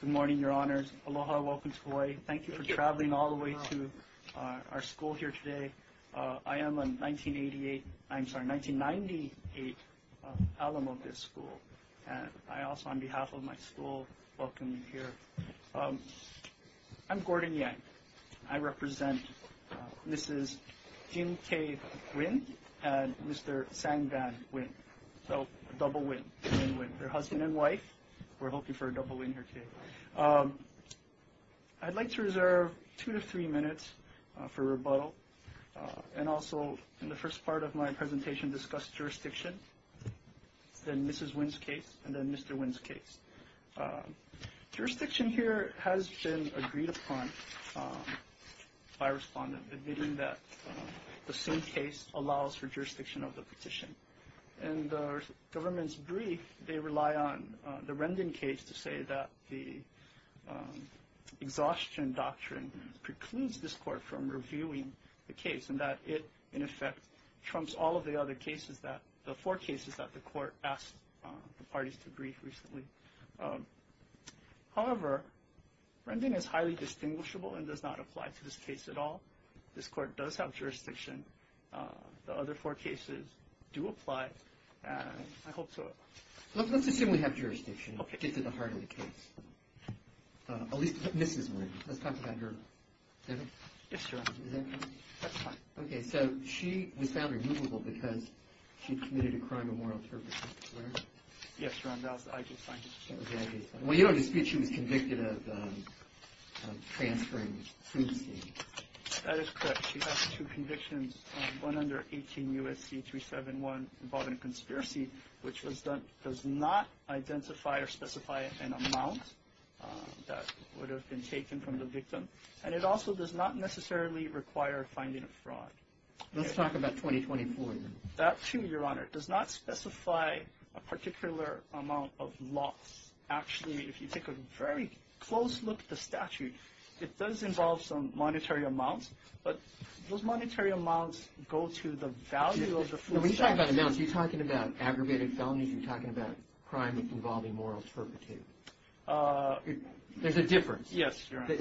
Good morning, Your Honors. Aloha, welcome to Hawaii. Thank you for traveling all the way to our school here today. I am a 1988, I'm sorry, 1998 alum of this school. And I also, on behalf of my school, welcome you here. I'm Gordon Yang. I represent Mrs. Kim K. Huynh and Mr. Sang Van Huynh. So, a double win for Huynh Huynh, her husband and wife. We're hoping for a double win here today. I'd like to reserve two to three minutes for rebuttal. And also, in the first part of my presentation, discuss jurisdiction, then Mrs. Huynh's case, and then Mr. Huynh's case. Jurisdiction here has been agreed upon by respondents, admitting that the Soon case allows for jurisdiction of the petition. In the government's brief, they rely on the Rendon case to say that the exhaustion doctrine precludes this court from reviewing the case, and that it, in effect, trumps all of the other cases that, the four cases that the court asked the parties to brief recently. However, Rendon is highly distinguishable and does not apply to this case at all. This court does have jurisdiction. The other four cases do apply, and I hope to... Let's assume we have jurisdiction, just at the heart of the case. At least Mrs. Rendon. Let's talk about her. Is that right? Yes, Your Honor. Is that correct? That's fine. Okay, so she was found removable because she'd committed a crime of moral purpose, correct? Yes, Your Honor. That was the IG's finding. That was the IG's finding. Well, you don't dispute she was convicted of transferring Soon's case. That is correct. She has two convictions, one under 18 U.S.C. 371, involving a conspiracy, which does not identify or specify an amount that would have been taken from the victim, and it also does not necessarily require finding a fraud. Let's talk about 2024, then. That, too, Your Honor, does not specify a particular amount of loss. Actually, if you take a very close look at the statute, it does involve some monetary amounts, but those monetary amounts go to the value of the full statute. When you talk about amounts, are you talking about aggravated felonies? Are you talking about crime involving moral turpitude? There's a difference. Yes, Your Honor.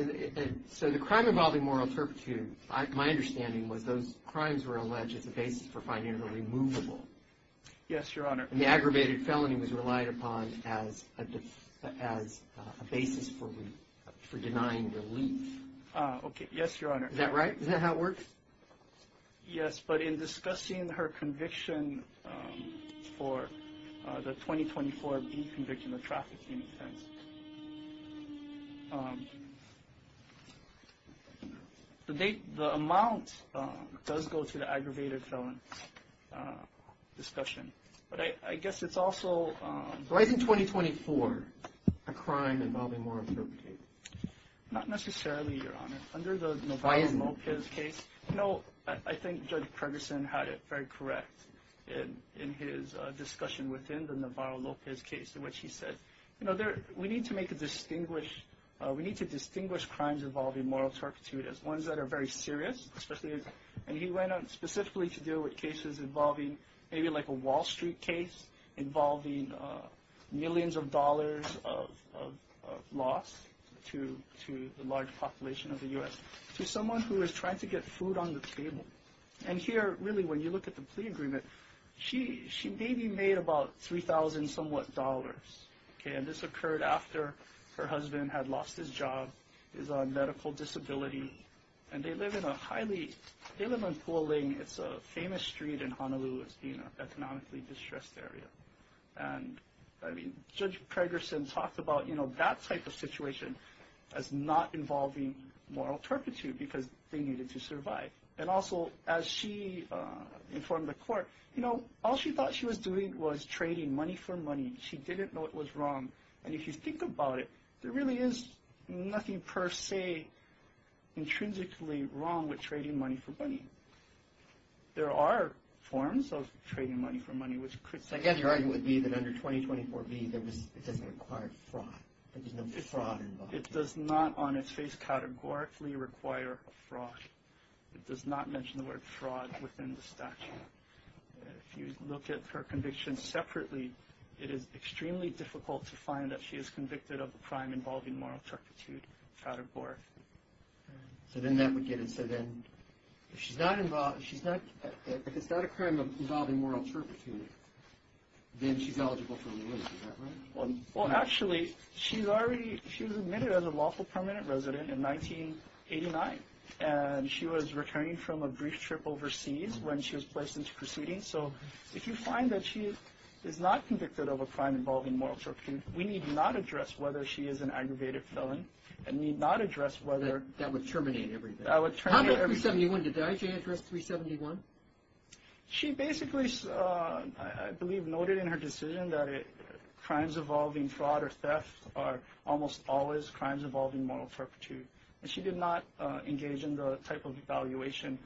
So the crime involving moral turpitude, my understanding was those crimes were alleged as a basis for finding her removable. Yes, Your Honor. And the aggravated felony was relied upon as a basis for denying relief. Okay. Yes, Your Honor. Is that right? Is that how it works? Yes, but in discussing her conviction for the 2024 B conviction, the trafficking offense, the amount does go to the aggravated felon discussion. But I guess it's also— Why isn't 2024 a crime involving moral turpitude? Not necessarily, Your Honor. Under the Navarro-Lopez case— Why isn't it? You know, I think Judge Pregerson had it very correct in his discussion within the Navarro-Lopez case in which he said, you know, we need to distinguish crimes involving moral turpitude as ones that are very serious, and he went on specifically to deal with cases involving maybe like a Wall Street case involving millions of dollars of loss to the large population of the U.S. to someone who was trying to get food on the table. And here, really, when you look at the plea agreement, she maybe made about $3,000-somewhat. Okay. And this occurred after her husband had lost his job, is on medical disability, and they live in a highly—they live on Puoling. It's a famous street in Honolulu. It's been an economically distressed area. And, I mean, Judge Pregerson talked about, you know, that type of situation as not involving moral turpitude because they needed to survive. And also, as she informed the court, you know, all she thought she was doing was trading money for money. She didn't know it was wrong. And if you think about it, there really is nothing per se intrinsically wrong with trading money for money. There are forms of trading money for money, which could— So, again, your argument would be that under 2024b, there was—it doesn't require fraud. It does not, on its face, categorically require fraud. It does not mention the word fraud within the statute. If you look at her conviction separately, it is extremely difficult to find that she is convicted of a crime involving moral turpitude, categorically. So then that would get it. So then if she's not involved—if it's not a crime involving moral turpitude, then she's eligible for a release. Is that right? Well, actually, she's already—she was admitted as a lawful permanent resident in 1989, and she was returning from a brief trip overseas when she was placed into proceedings. So if you find that she is not convicted of a crime involving moral turpitude, we need not address whether she is an aggravated felon and need not address whether— That would terminate everything. That would terminate everything. How about 371? Did the IJA address 371? She basically, I believe, noted in her decision that crimes involving fraud or theft are almost always crimes involving moral turpitude. And she did not engage in the type of evaluation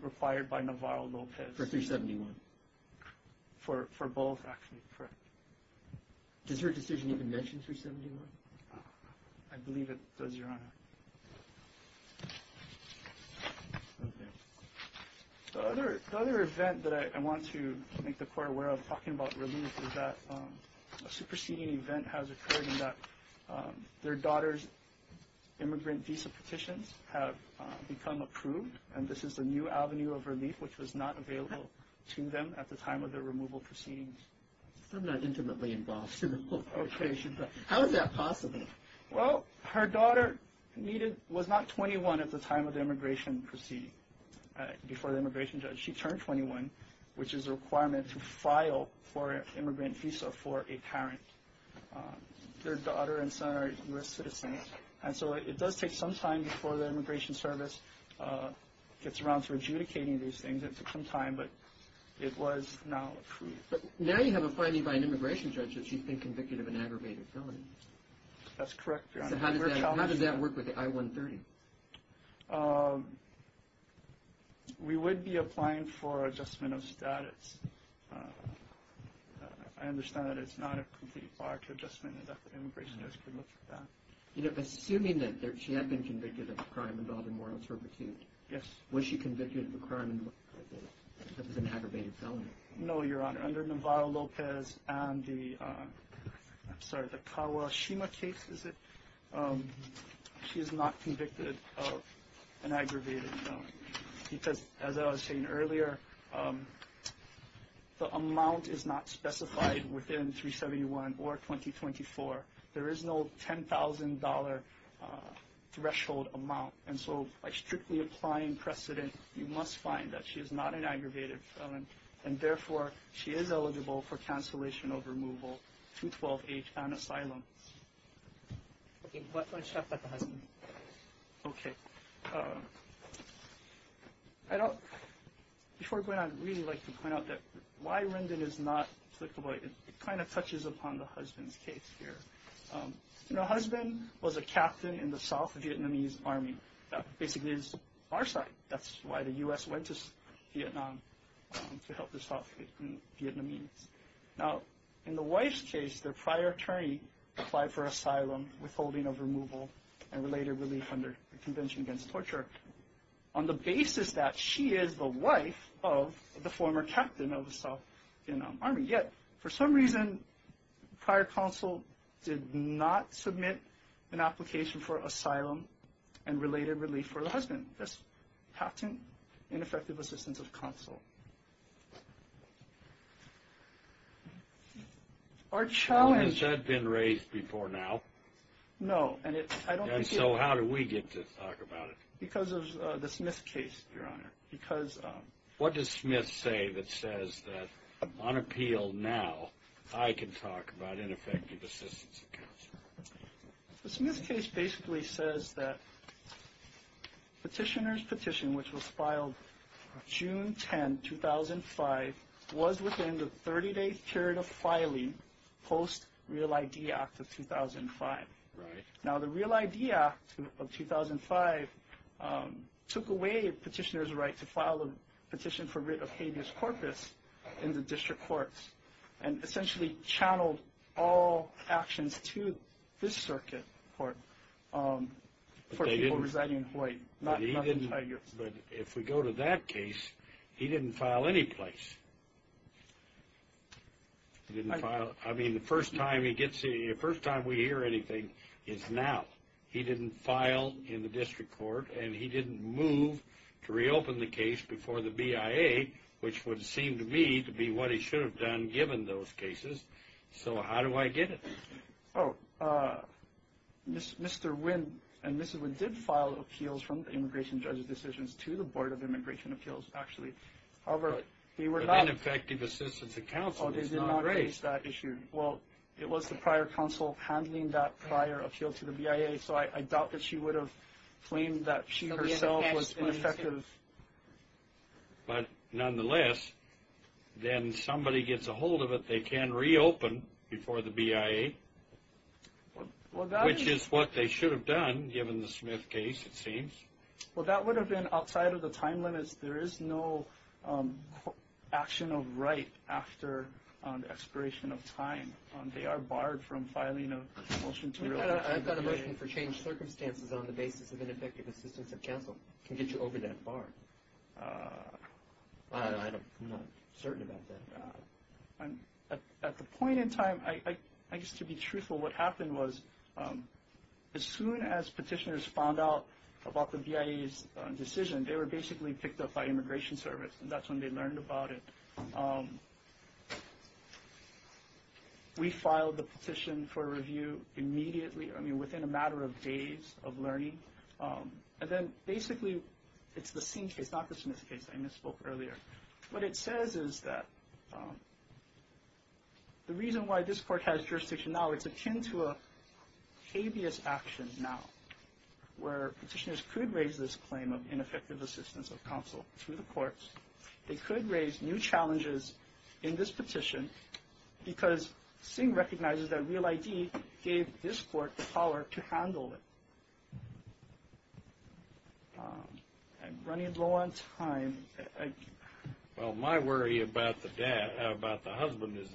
required by Navarro-Lopez. For 371? For both, actually, correct. Does her decision even mention 371? I believe it does, Your Honor. Okay. The other event that I want to make the Court aware of talking about relief is that a superseding event has occurred in that their daughter's immigrant visa petitions have become approved, and this is the new avenue of relief, which was not available to them at the time of their removal proceedings. I'm not intimately involved in the whole situation, but how is that possible? Well, her daughter was not 21 at the time of the immigration proceeding, before the immigration judge. She turned 21, which is a requirement to file for an immigrant visa for a parent. Their daughter and son are U.S. citizens, and so it does take some time before the Immigration Service gets around to adjudicating these things. It took some time, but it was now approved. But now you have a finding by an immigration judge that she's been convicted of an aggravated felony. That's correct, Your Honor. So how does that work with the I-130? We would be applying for adjustment of status. I understand that it's not a complete bar to adjustment, and that the immigration judge could look at that. Assuming that she had been convicted of a crime involving moral servitude, was she convicted of a crime that was an aggravated felony? No, Your Honor. Under Navarro-Lopez and the Kawashima case, she is not convicted of an aggravated felony. Because, as I was saying earlier, the amount is not specified within 371 or 2024. There is no $10,000 threshold amount. And so by strictly applying precedent, you must find that she is not an aggravated felony, and therefore she is eligible for cancellation of removal through 12-H and asylum. Okay. Before going on, I'd really like to point out that why Rendon is not applicable, it kind of touches upon the husband's case here. Her husband was a captain in the South Vietnamese Army. That basically is our side. That's why the U.S. went to Vietnam to help the South Vietnamese. Now, in the wife's case, their prior attorney applied for asylum, withholding of removal, and later relief under the Convention Against Torture, on the basis that she is the wife of the former captain of the South Vietnam Army. And yet, for some reason, prior counsel did not submit an application for asylum and related relief for the husband. That's captain ineffective assistance of counsel. Has that been raised before now? No. And so how did we get to talk about it? Because of the Smith case, Your Honor. What does Smith say that says that, on appeal now, I can talk about ineffective assistance of counsel? The Smith case basically says that petitioner's petition, which was filed June 10, 2005, was within the 30-day period of filing post Real ID Act of 2005. Right. Now, the Real ID Act of 2005 took away petitioner's right to file a petition for writ of habeas corpus in the district courts and essentially channeled all actions to this circuit court for people residing in Hawaii, not the Tigers. But if we go to that case, he didn't file any place. He didn't file. I mean, the first time we hear anything is now. He didn't file in the district court, and he didn't move to reopen the case before the BIA, which would seem to me to be what he should have done given those cases. So how do I get it? Oh, Mr. Wynn and Mrs. Wynn did file appeals from the immigration judge's decisions to the Board of Immigration Appeals, actually. However, they were not. But ineffective assistance of counsel is not great. Oh, they did not face that issue. Well, it was the prior counsel handling that prior appeal to the BIA, so I doubt that she would have claimed that she herself was ineffective. But nonetheless, then somebody gets a hold of it, they can reopen before the BIA, which is what they should have done given the Smith case, it seems. Well, that would have been outside of the time limits. There is no action of right after expiration of time. They are barred from filing a motion to reopen. I've got a motion for changed circumstances on the basis of ineffective assistance of counsel. It can get you over that bar. I'm not certain about that. At the point in time, I guess to be truthful, what happened was as soon as petitioners found out about the BIA's decision, they were basically picked up by Immigration Service, and that's when they learned about it. We filed the petition for review immediately, I mean within a matter of days of learning. And then basically it's the same case, not the Smith case I misspoke earlier. What it says is that the reason why this court has jurisdiction now, it's akin to a habeas action now where petitioners could raise this claim of ineffective assistance of counsel to the courts. They could raise new challenges in this petition because Singh recognizes that Real ID gave this court the power to handle it. I'm running low on time. Well, my worry about the husband is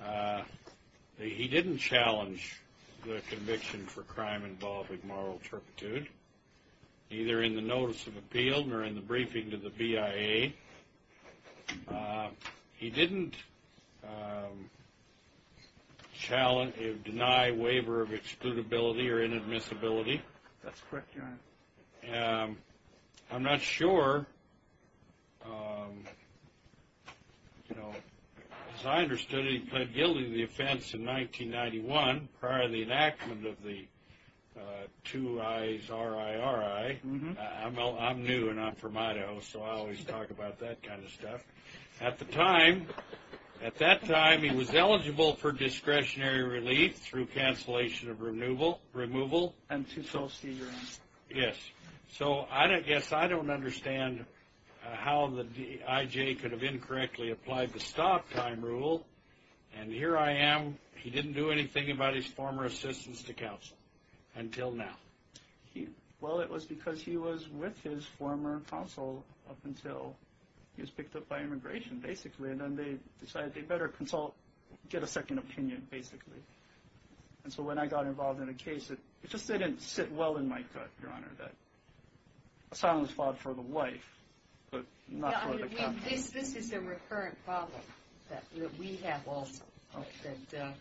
that he didn't challenge the conviction for crime involving moral turpitude, either in the notice of appeal or in the briefing to the BIA. He didn't deny waiver of excludability or inadmissibility. That's correct, Your Honor. I'm not sure. As I understood it, he pled guilty to the offense in 1991 prior to the enactment of the 2 I's RIRI. I'm new and I'm from Idaho, so I always talk about that kind of stuff. At the time, at that time, he was eligible for discretionary relief through cancellation of removal. And to so see, Your Honor. Yes. So I guess I don't understand how the IJ could have incorrectly applied the stop time rule. And here I am, he didn't do anything about his former assistance to counsel until now. Well, it was because he was with his former counsel up until he was picked up by immigration, basically. And then they decided they'd better consult, get a second opinion, basically. And so when I got involved in a case, it just didn't sit well in my gut, Your Honor, that silence fought for the wife but not for the content. This is a recurrent problem that we have also, that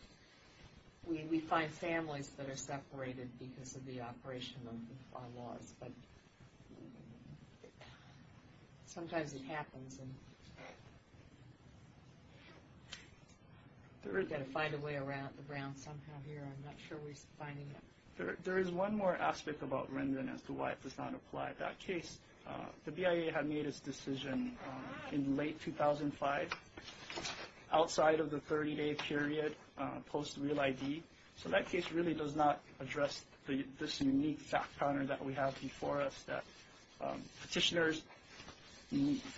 we find families that are separated because of the operation of our laws. But sometimes it happens. We've got to find a way around somehow here. I'm not sure we're finding it. There is one more aspect about Rendon as to why it does not apply. At that case, the BIA had made its decision in late 2005, outside of the 30-day period post real ID. So that case really does not address this unique fact pattern that we have before us, that petitioners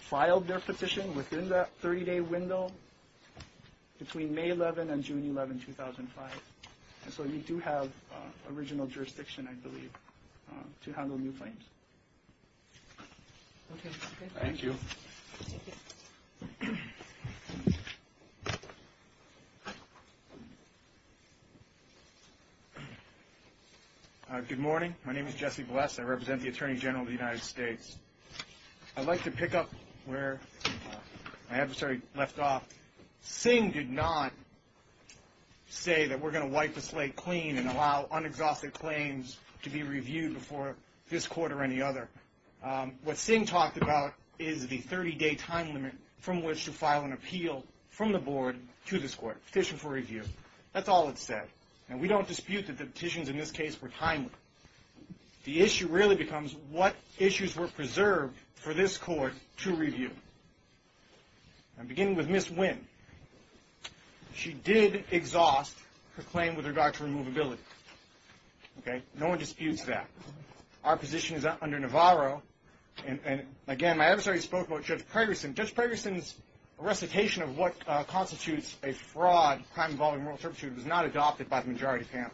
filed their petition within that 30-day window between May 11 and June 11, 2005. And so you do have original jurisdiction, I believe, to handle new claims. Okay. Thank you. Thank you. Good morning. My name is Jesse Vless. I represent the Attorney General of the United States. I'd like to pick up where my adversary left off. Singh did not say that we're going to wipe the slate clean and allow unexhausted claims to be reviewed before this court or any other. What Singh talked about is the 30-day time limit from which to file an appeal from the board to this court, petition for review. That's all it said. And we don't dispute that the petitions in this case were timely. The issue really becomes what issues were preserved for this court to review. I'm beginning with Ms. Wynn. She did exhaust her claim with regard to removability. Okay. No one disputes that. Our position is under Navarro. And, again, my adversary spoke about Judge Pregerson. Judge Pregerson's recitation of what constitutes a fraud, crime involving moral turpitude, was not adopted by the majority panel.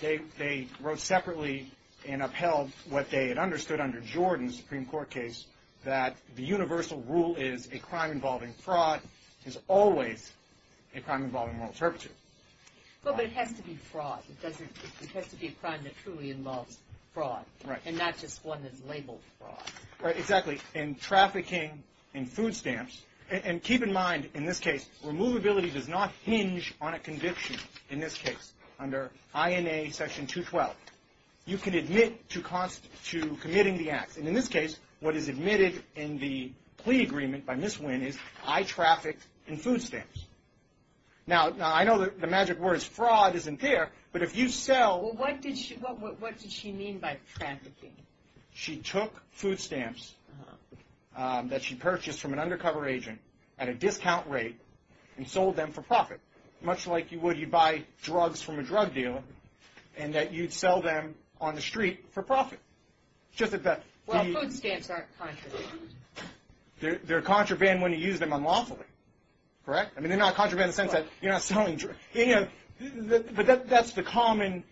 They wrote separately and upheld what they had understood under Jordan's Supreme Court case, that the universal rule is a crime involving fraud is always a crime involving moral turpitude. Well, but it has to be fraud. It has to be a crime that truly involves fraud. Right. And not just one that's labeled fraud. Right. Exactly. In trafficking, in food stamps. And keep in mind, in this case, removability does not hinge on a conviction, in this case, under INA Section 212. You can admit to committing the acts. And, in this case, what is admitted in the plea agreement by Ms. Wynn is I trafficked in food stamps. Now, I know the magic word is fraud isn't there, but if you sell. Well, what did she mean by trafficking? She took food stamps that she purchased from an undercover agent at a discount rate and sold them for profit. Much like you would you buy drugs from a drug dealer and that you'd sell them on the street for profit. Well, food stamps aren't contraband. They're contraband when you use them unlawfully. Correct? I mean, they're not contraband in the sense that you're not selling drugs. But that's the common.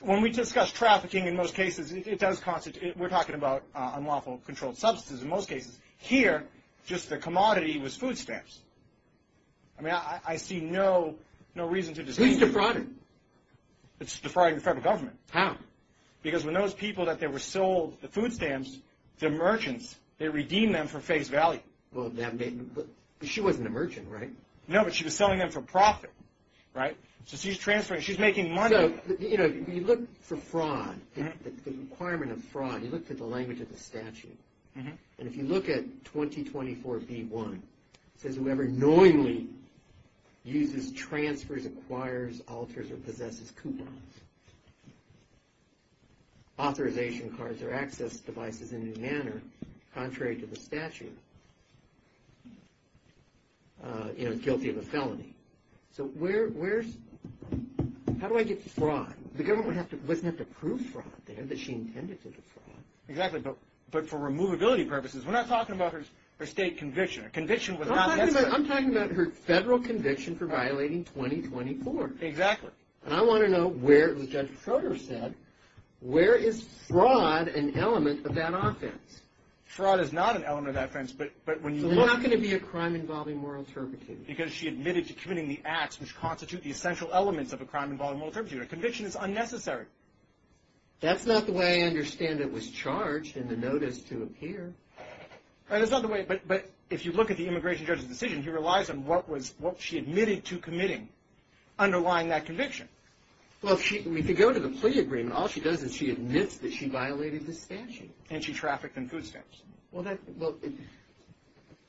When we discuss trafficking in most cases, it does constitute. We're talking about unlawful controlled substances in most cases. Here, just the commodity was food stamps. I mean, I see no reason to disagree. Who's defrauding? It's defrauding the federal government. How? Because when those people that they were sold the food stamps, they're merchants. They redeem them for face value. Well, she wasn't a merchant, right? No, but she was selling them for profit. Right? So she's transferring. She's making money. So, you know, you look for fraud. The requirement of fraud, you look at the language of the statute. And if you look at 2024B1, it says, whoever knowingly uses, transfers, acquires, alters, or possesses coupons, authorization cards, or access devices in any manner contrary to the statute, you know, guilty of a felony. So where's – how do I get to fraud? The government wouldn't have to prove fraud there that she intended to defraud. Exactly, but for removability purposes. We're not talking about her state conviction. Her conviction was not necessary. I'm talking about her federal conviction for violating 2024. Exactly. And I want to know where, as Judge Soter said, where is fraud an element of that offense? Fraud is not an element of that offense, but when you look – So there's not going to be a crime involving moral turpitude. Because she admitted to committing the acts which constitute the essential elements of a crime involving moral turpitude. Her conviction is unnecessary. That's not the way I understand it was charged in the notice to appear. That's not the way – but if you look at the immigration judge's decision, he relies on what was – what she admitted to committing underlying that conviction. Well, if she – I mean, if you go to the plea agreement, all she does is she admits that she violated the statute. And she trafficked in food stamps. Well, that – well,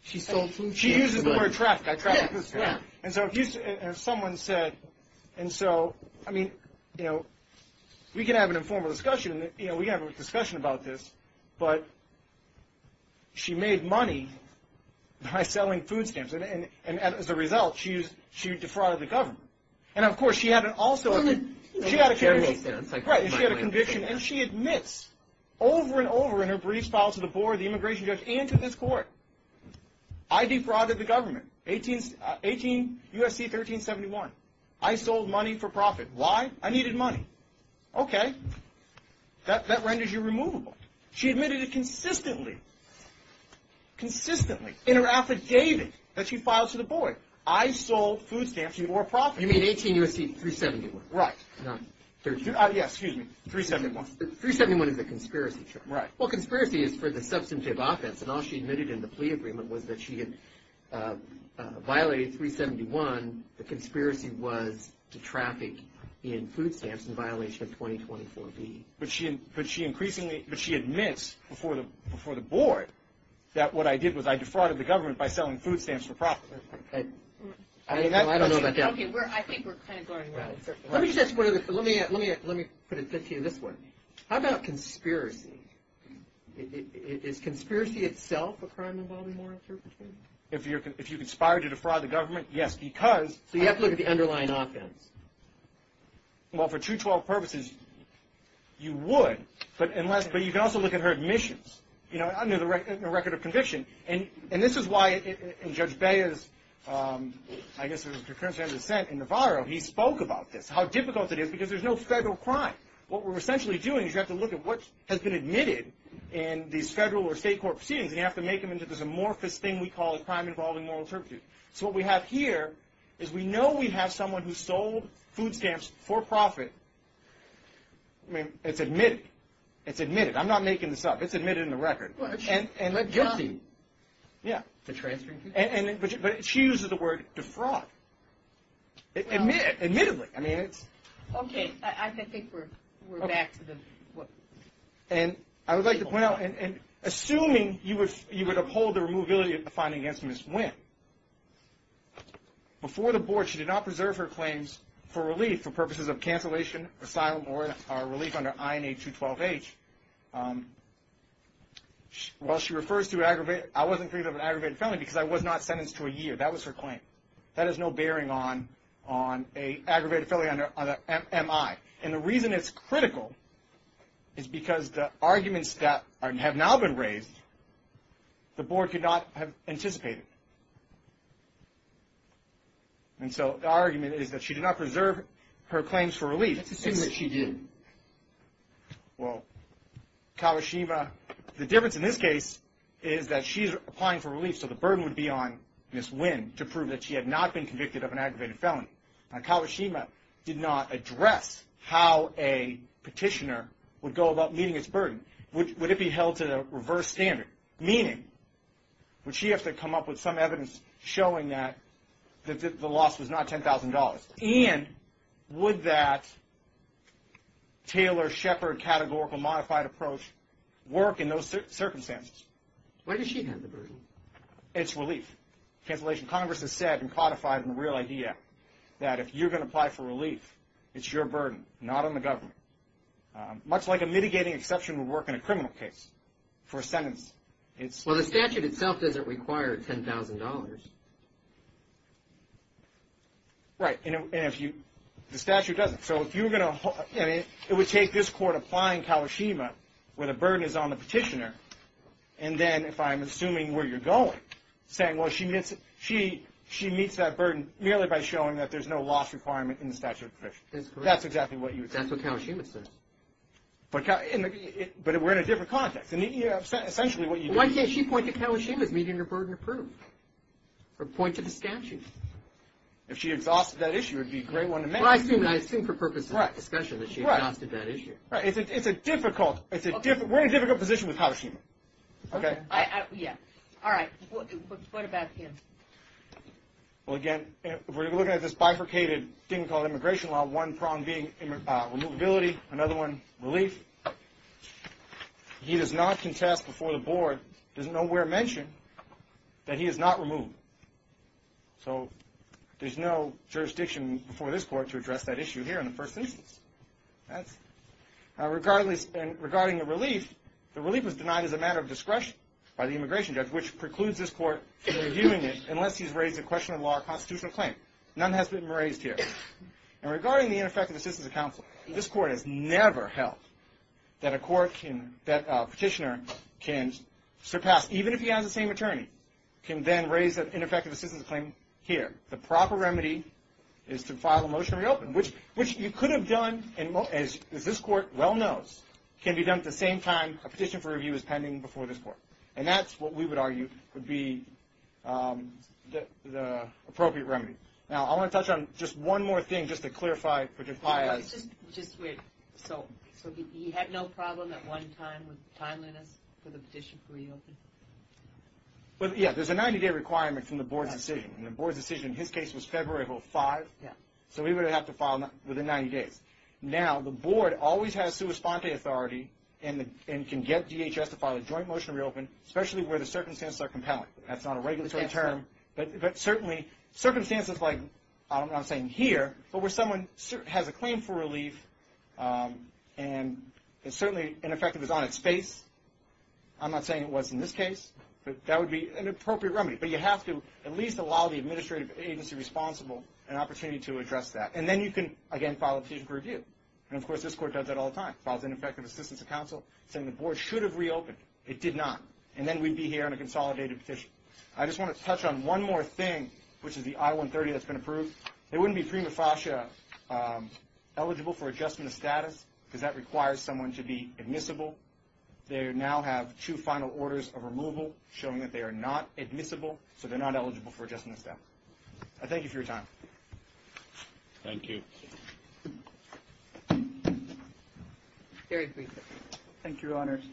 she sold food stamps. She uses the word trafficked. I trafficked food stamps. And so if you – and someone said – and so, I mean, you know, we can have an informal discussion. You know, we can have a discussion about this. But she made money by selling food stamps. And as a result, she defrauded the government. And, of course, she had an also – she had a conviction. And she had a conviction. And she admits over and over in her briefs filed to the board, the immigration judge, and to this court, I defrauded the government, 18 – 18 U.S.C. 1371. I sold money for profit. Why? I needed money. Okay. That renders you removable. She admitted it consistently – consistently in her affidavit that she filed to the board. I sold food stamps for your profit. You mean 18 U.S.C. 371. Right. Not 13 – Yes. Excuse me. 371. 371 is a conspiracy. Right. Well, conspiracy is for the substantive offense. And all she admitted in the plea agreement was that she had violated 371. The conspiracy was to traffic in food stamps in violation of 2024B. But she increasingly – but she admits before the board that what I did was I defrauded the government by selling food stamps for profit. I don't know about that. Okay. I think we're kind of going – Let me just ask – let me put it to you this way. How about conspiracy? Is conspiracy itself a crime involving moral interpretation? If you conspire to defraud the government, yes. Because – So you have to look at the underlying offense. Well, for 212 purposes, you would. But unless – but you can also look at her admissions, you know, under the record of conviction. And this is why in Judge Bea's – I guess it was a concurrence of his dissent in Navarro, he spoke about this, how difficult it is because there's no federal crime. What we're essentially doing is you have to look at what has been admitted in these federal or state court proceedings, and you have to make them into this amorphous thing we call a crime involving moral interpretation. So what we have here is we know we have someone who sold food stamps for profit. I mean, it's admitted. It's admitted. I'm not making this up. It's admitted in the record. And guilty. Yeah. To transferring food stamps? But she uses the word defraud. Admittedly. I mean, it's – We're back to the – And I would like to point out, and assuming you would uphold the removability of the finding against Ms. Wynn, before the board she did not preserve her claims for relief for purposes of cancellation, asylum, or relief under INA 212H. While she refers to aggravated – I wasn't thinking of an aggravated felony because I was not sentenced to a year. That was her claim. That has no bearing on an aggravated felony under MI. And the reason it's critical is because the arguments that have now been raised, the board could not have anticipated. And so the argument is that she did not preserve her claims for relief. Let's assume that she did. Well, Kawashima – the difference in this case is that she's applying for relief, so the burden would be on Ms. Wynn to prove that she had not been convicted of an aggravated felony. Now, Kawashima did not address how a petitioner would go about meeting its burden. Would it be held to the reverse standard? Meaning, would she have to come up with some evidence showing that the loss was not $10,000? And would that Taylor-Shepard categorical modified approach work in those circumstances? Where does she have the burden? It's relief. Cancellation. Congress has said and codified in the Real Idea that if you're going to apply for relief, it's your burden, not on the government. Much like a mitigating exception would work in a criminal case for a sentence. Well, the statute itself doesn't require $10,000. Right. And if you – the statute doesn't. So if you're going to – it would take this court applying Kawashima where the burden is on the petitioner, and then if I'm assuming where you're going, saying, well, she meets that burden merely by showing that there's no loss requirement in the statute of conditions. That's correct. That's exactly what you would say. That's what Kawashima says. But we're in a different context. And essentially what you do – Why can't she point to Kawashima as meeting her burden of proof or point to the statute? If she exhausted that issue, it would be a great one to make. Well, I assume for purposes of discussion that she exhausted that issue. Right. Right. It's a difficult – We're in a difficult position with Kawashima. Okay. Yeah. All right. What about him? Well, again, if we're looking at this bifurcated thing called immigration law, one problem being removability, another one relief. He does not contest before the board, doesn't nowhere mention that he is not removed. So there's no jurisdiction before this court to address that issue here in the first instance. Regarding the relief, the relief was denied as a matter of discretion by the immigration judge, which precludes this court from reviewing it unless he's raised a question of law or constitutional claim. None has been raised here. And regarding the ineffective assistance of counsel, this court has never held that a court can – that a petitioner can surpass, even if he has the same attorney, can then raise an ineffective assistance claim here. The proper remedy is to file a motion to reopen, which you could have done, as this court well knows, can be done at the same time a petition for review is pending before this court. And that's what we would argue would be the appropriate remedy. Now, I want to touch on just one more thing just to clarify. Just wait. So he had no problem at one time with timeliness for the petition to reopen? Yeah. There's a 90-day requirement from the board's decision. And the board's decision, his case was February 5th. Yeah. So we would have to file within 90 days. Now, the board always has sua sponte authority and can get DHS to file a joint motion to reopen, especially where the circumstances are compelling. That's not a regulatory term. But certainly circumstances like, I'm not saying here, but where someone has a claim for relief and it's certainly ineffective is on its face. I'm not saying it was in this case. That would be an appropriate remedy. But you have to at least allow the administrative agency responsible an opportunity to address that. And then you can, again, file a petition for review. And, of course, this court does that all the time. Files ineffective assistance to counsel, saying the board should have reopened. It did not. And then we'd be here on a consolidated petition. I just want to touch on one more thing, which is the I-130 that's been approved. They wouldn't be prima facie eligible for adjustment of status because that requires someone to be admissible. They now have two final orders of removal showing that they are not admissible, so they're not eligible for adjustment of status. I thank you for your time. Thank you. Eric, please. Thank you, Your Honors.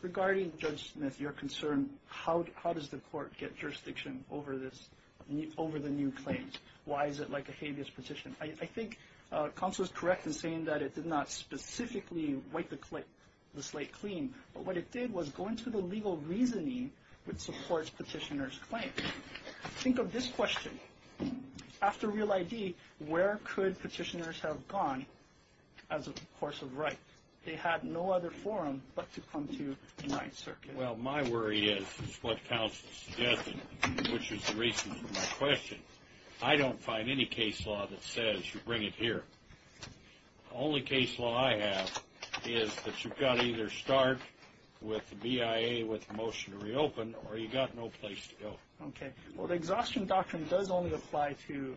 Regarding Judge Smith, your concern, how does the court get jurisdiction over the new claims? Why is it like a habeas petition? I think counsel is correct in saying that it did not specifically wipe the slate clean, but what it did was go into the legal reasoning which supports petitioner's claims. Think of this question. After Real ID, where could petitioners have gone as a course of right? They had no other forum but to come to the Ninth Circuit. Well, my worry is, is what counsel suggested, which is the reason for my question, I don't find any case law that says you bring it here. The only case law I have is that you've got to either start with the BIA with a motion to reopen, or you've got no place to go. Okay. Well, the exhaustion doctrine does only apply to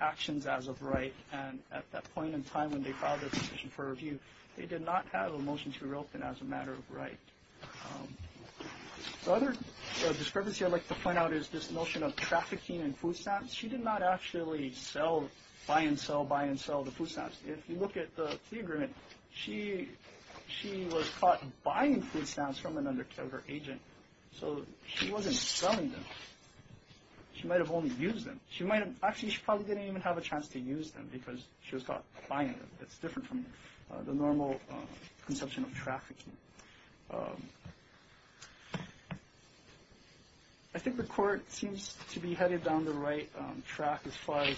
actions as of right, and at that point in time when they filed their petition for review, they did not have a motion to reopen as a matter of right. The other discrepancy I'd like to point out is this notion of trafficking in food stamps. She did not actually sell, buy and sell, buy and sell the food stamps. If you look at the agreement, she was caught buying food stamps from an undercover agent, so she wasn't selling them. She might have only used them. Actually, she probably didn't even have a chance to use them because she was caught buying them. It's different from the normal conception of trafficking. I think the court seems to be headed down the right track as far as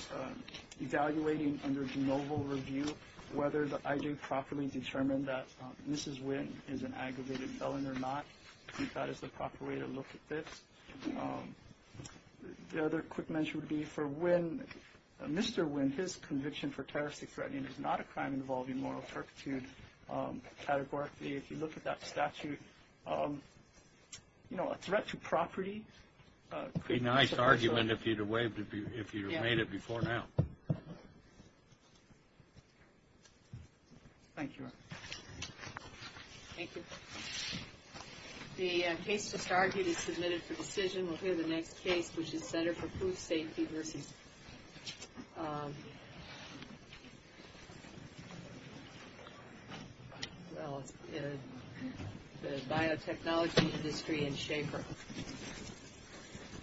evaluating under de novo review whether the IJ properly determined that Mrs. Wynn is an aggravated felon or not. I think that is the proper way to look at this. The other quick mention would be for Wynn, Mr. Wynn, his conviction for terroristic threatening is not a crime involving moral turpitude categorically. If you look at that statute, you know, a threat to property. It would be a nice argument if you had made it before now. Thank you. Thank you. The case just argued is submitted for decision. We'll hear the next case, which is Center for Food Safety versus the biotechnology industry in Schaefer.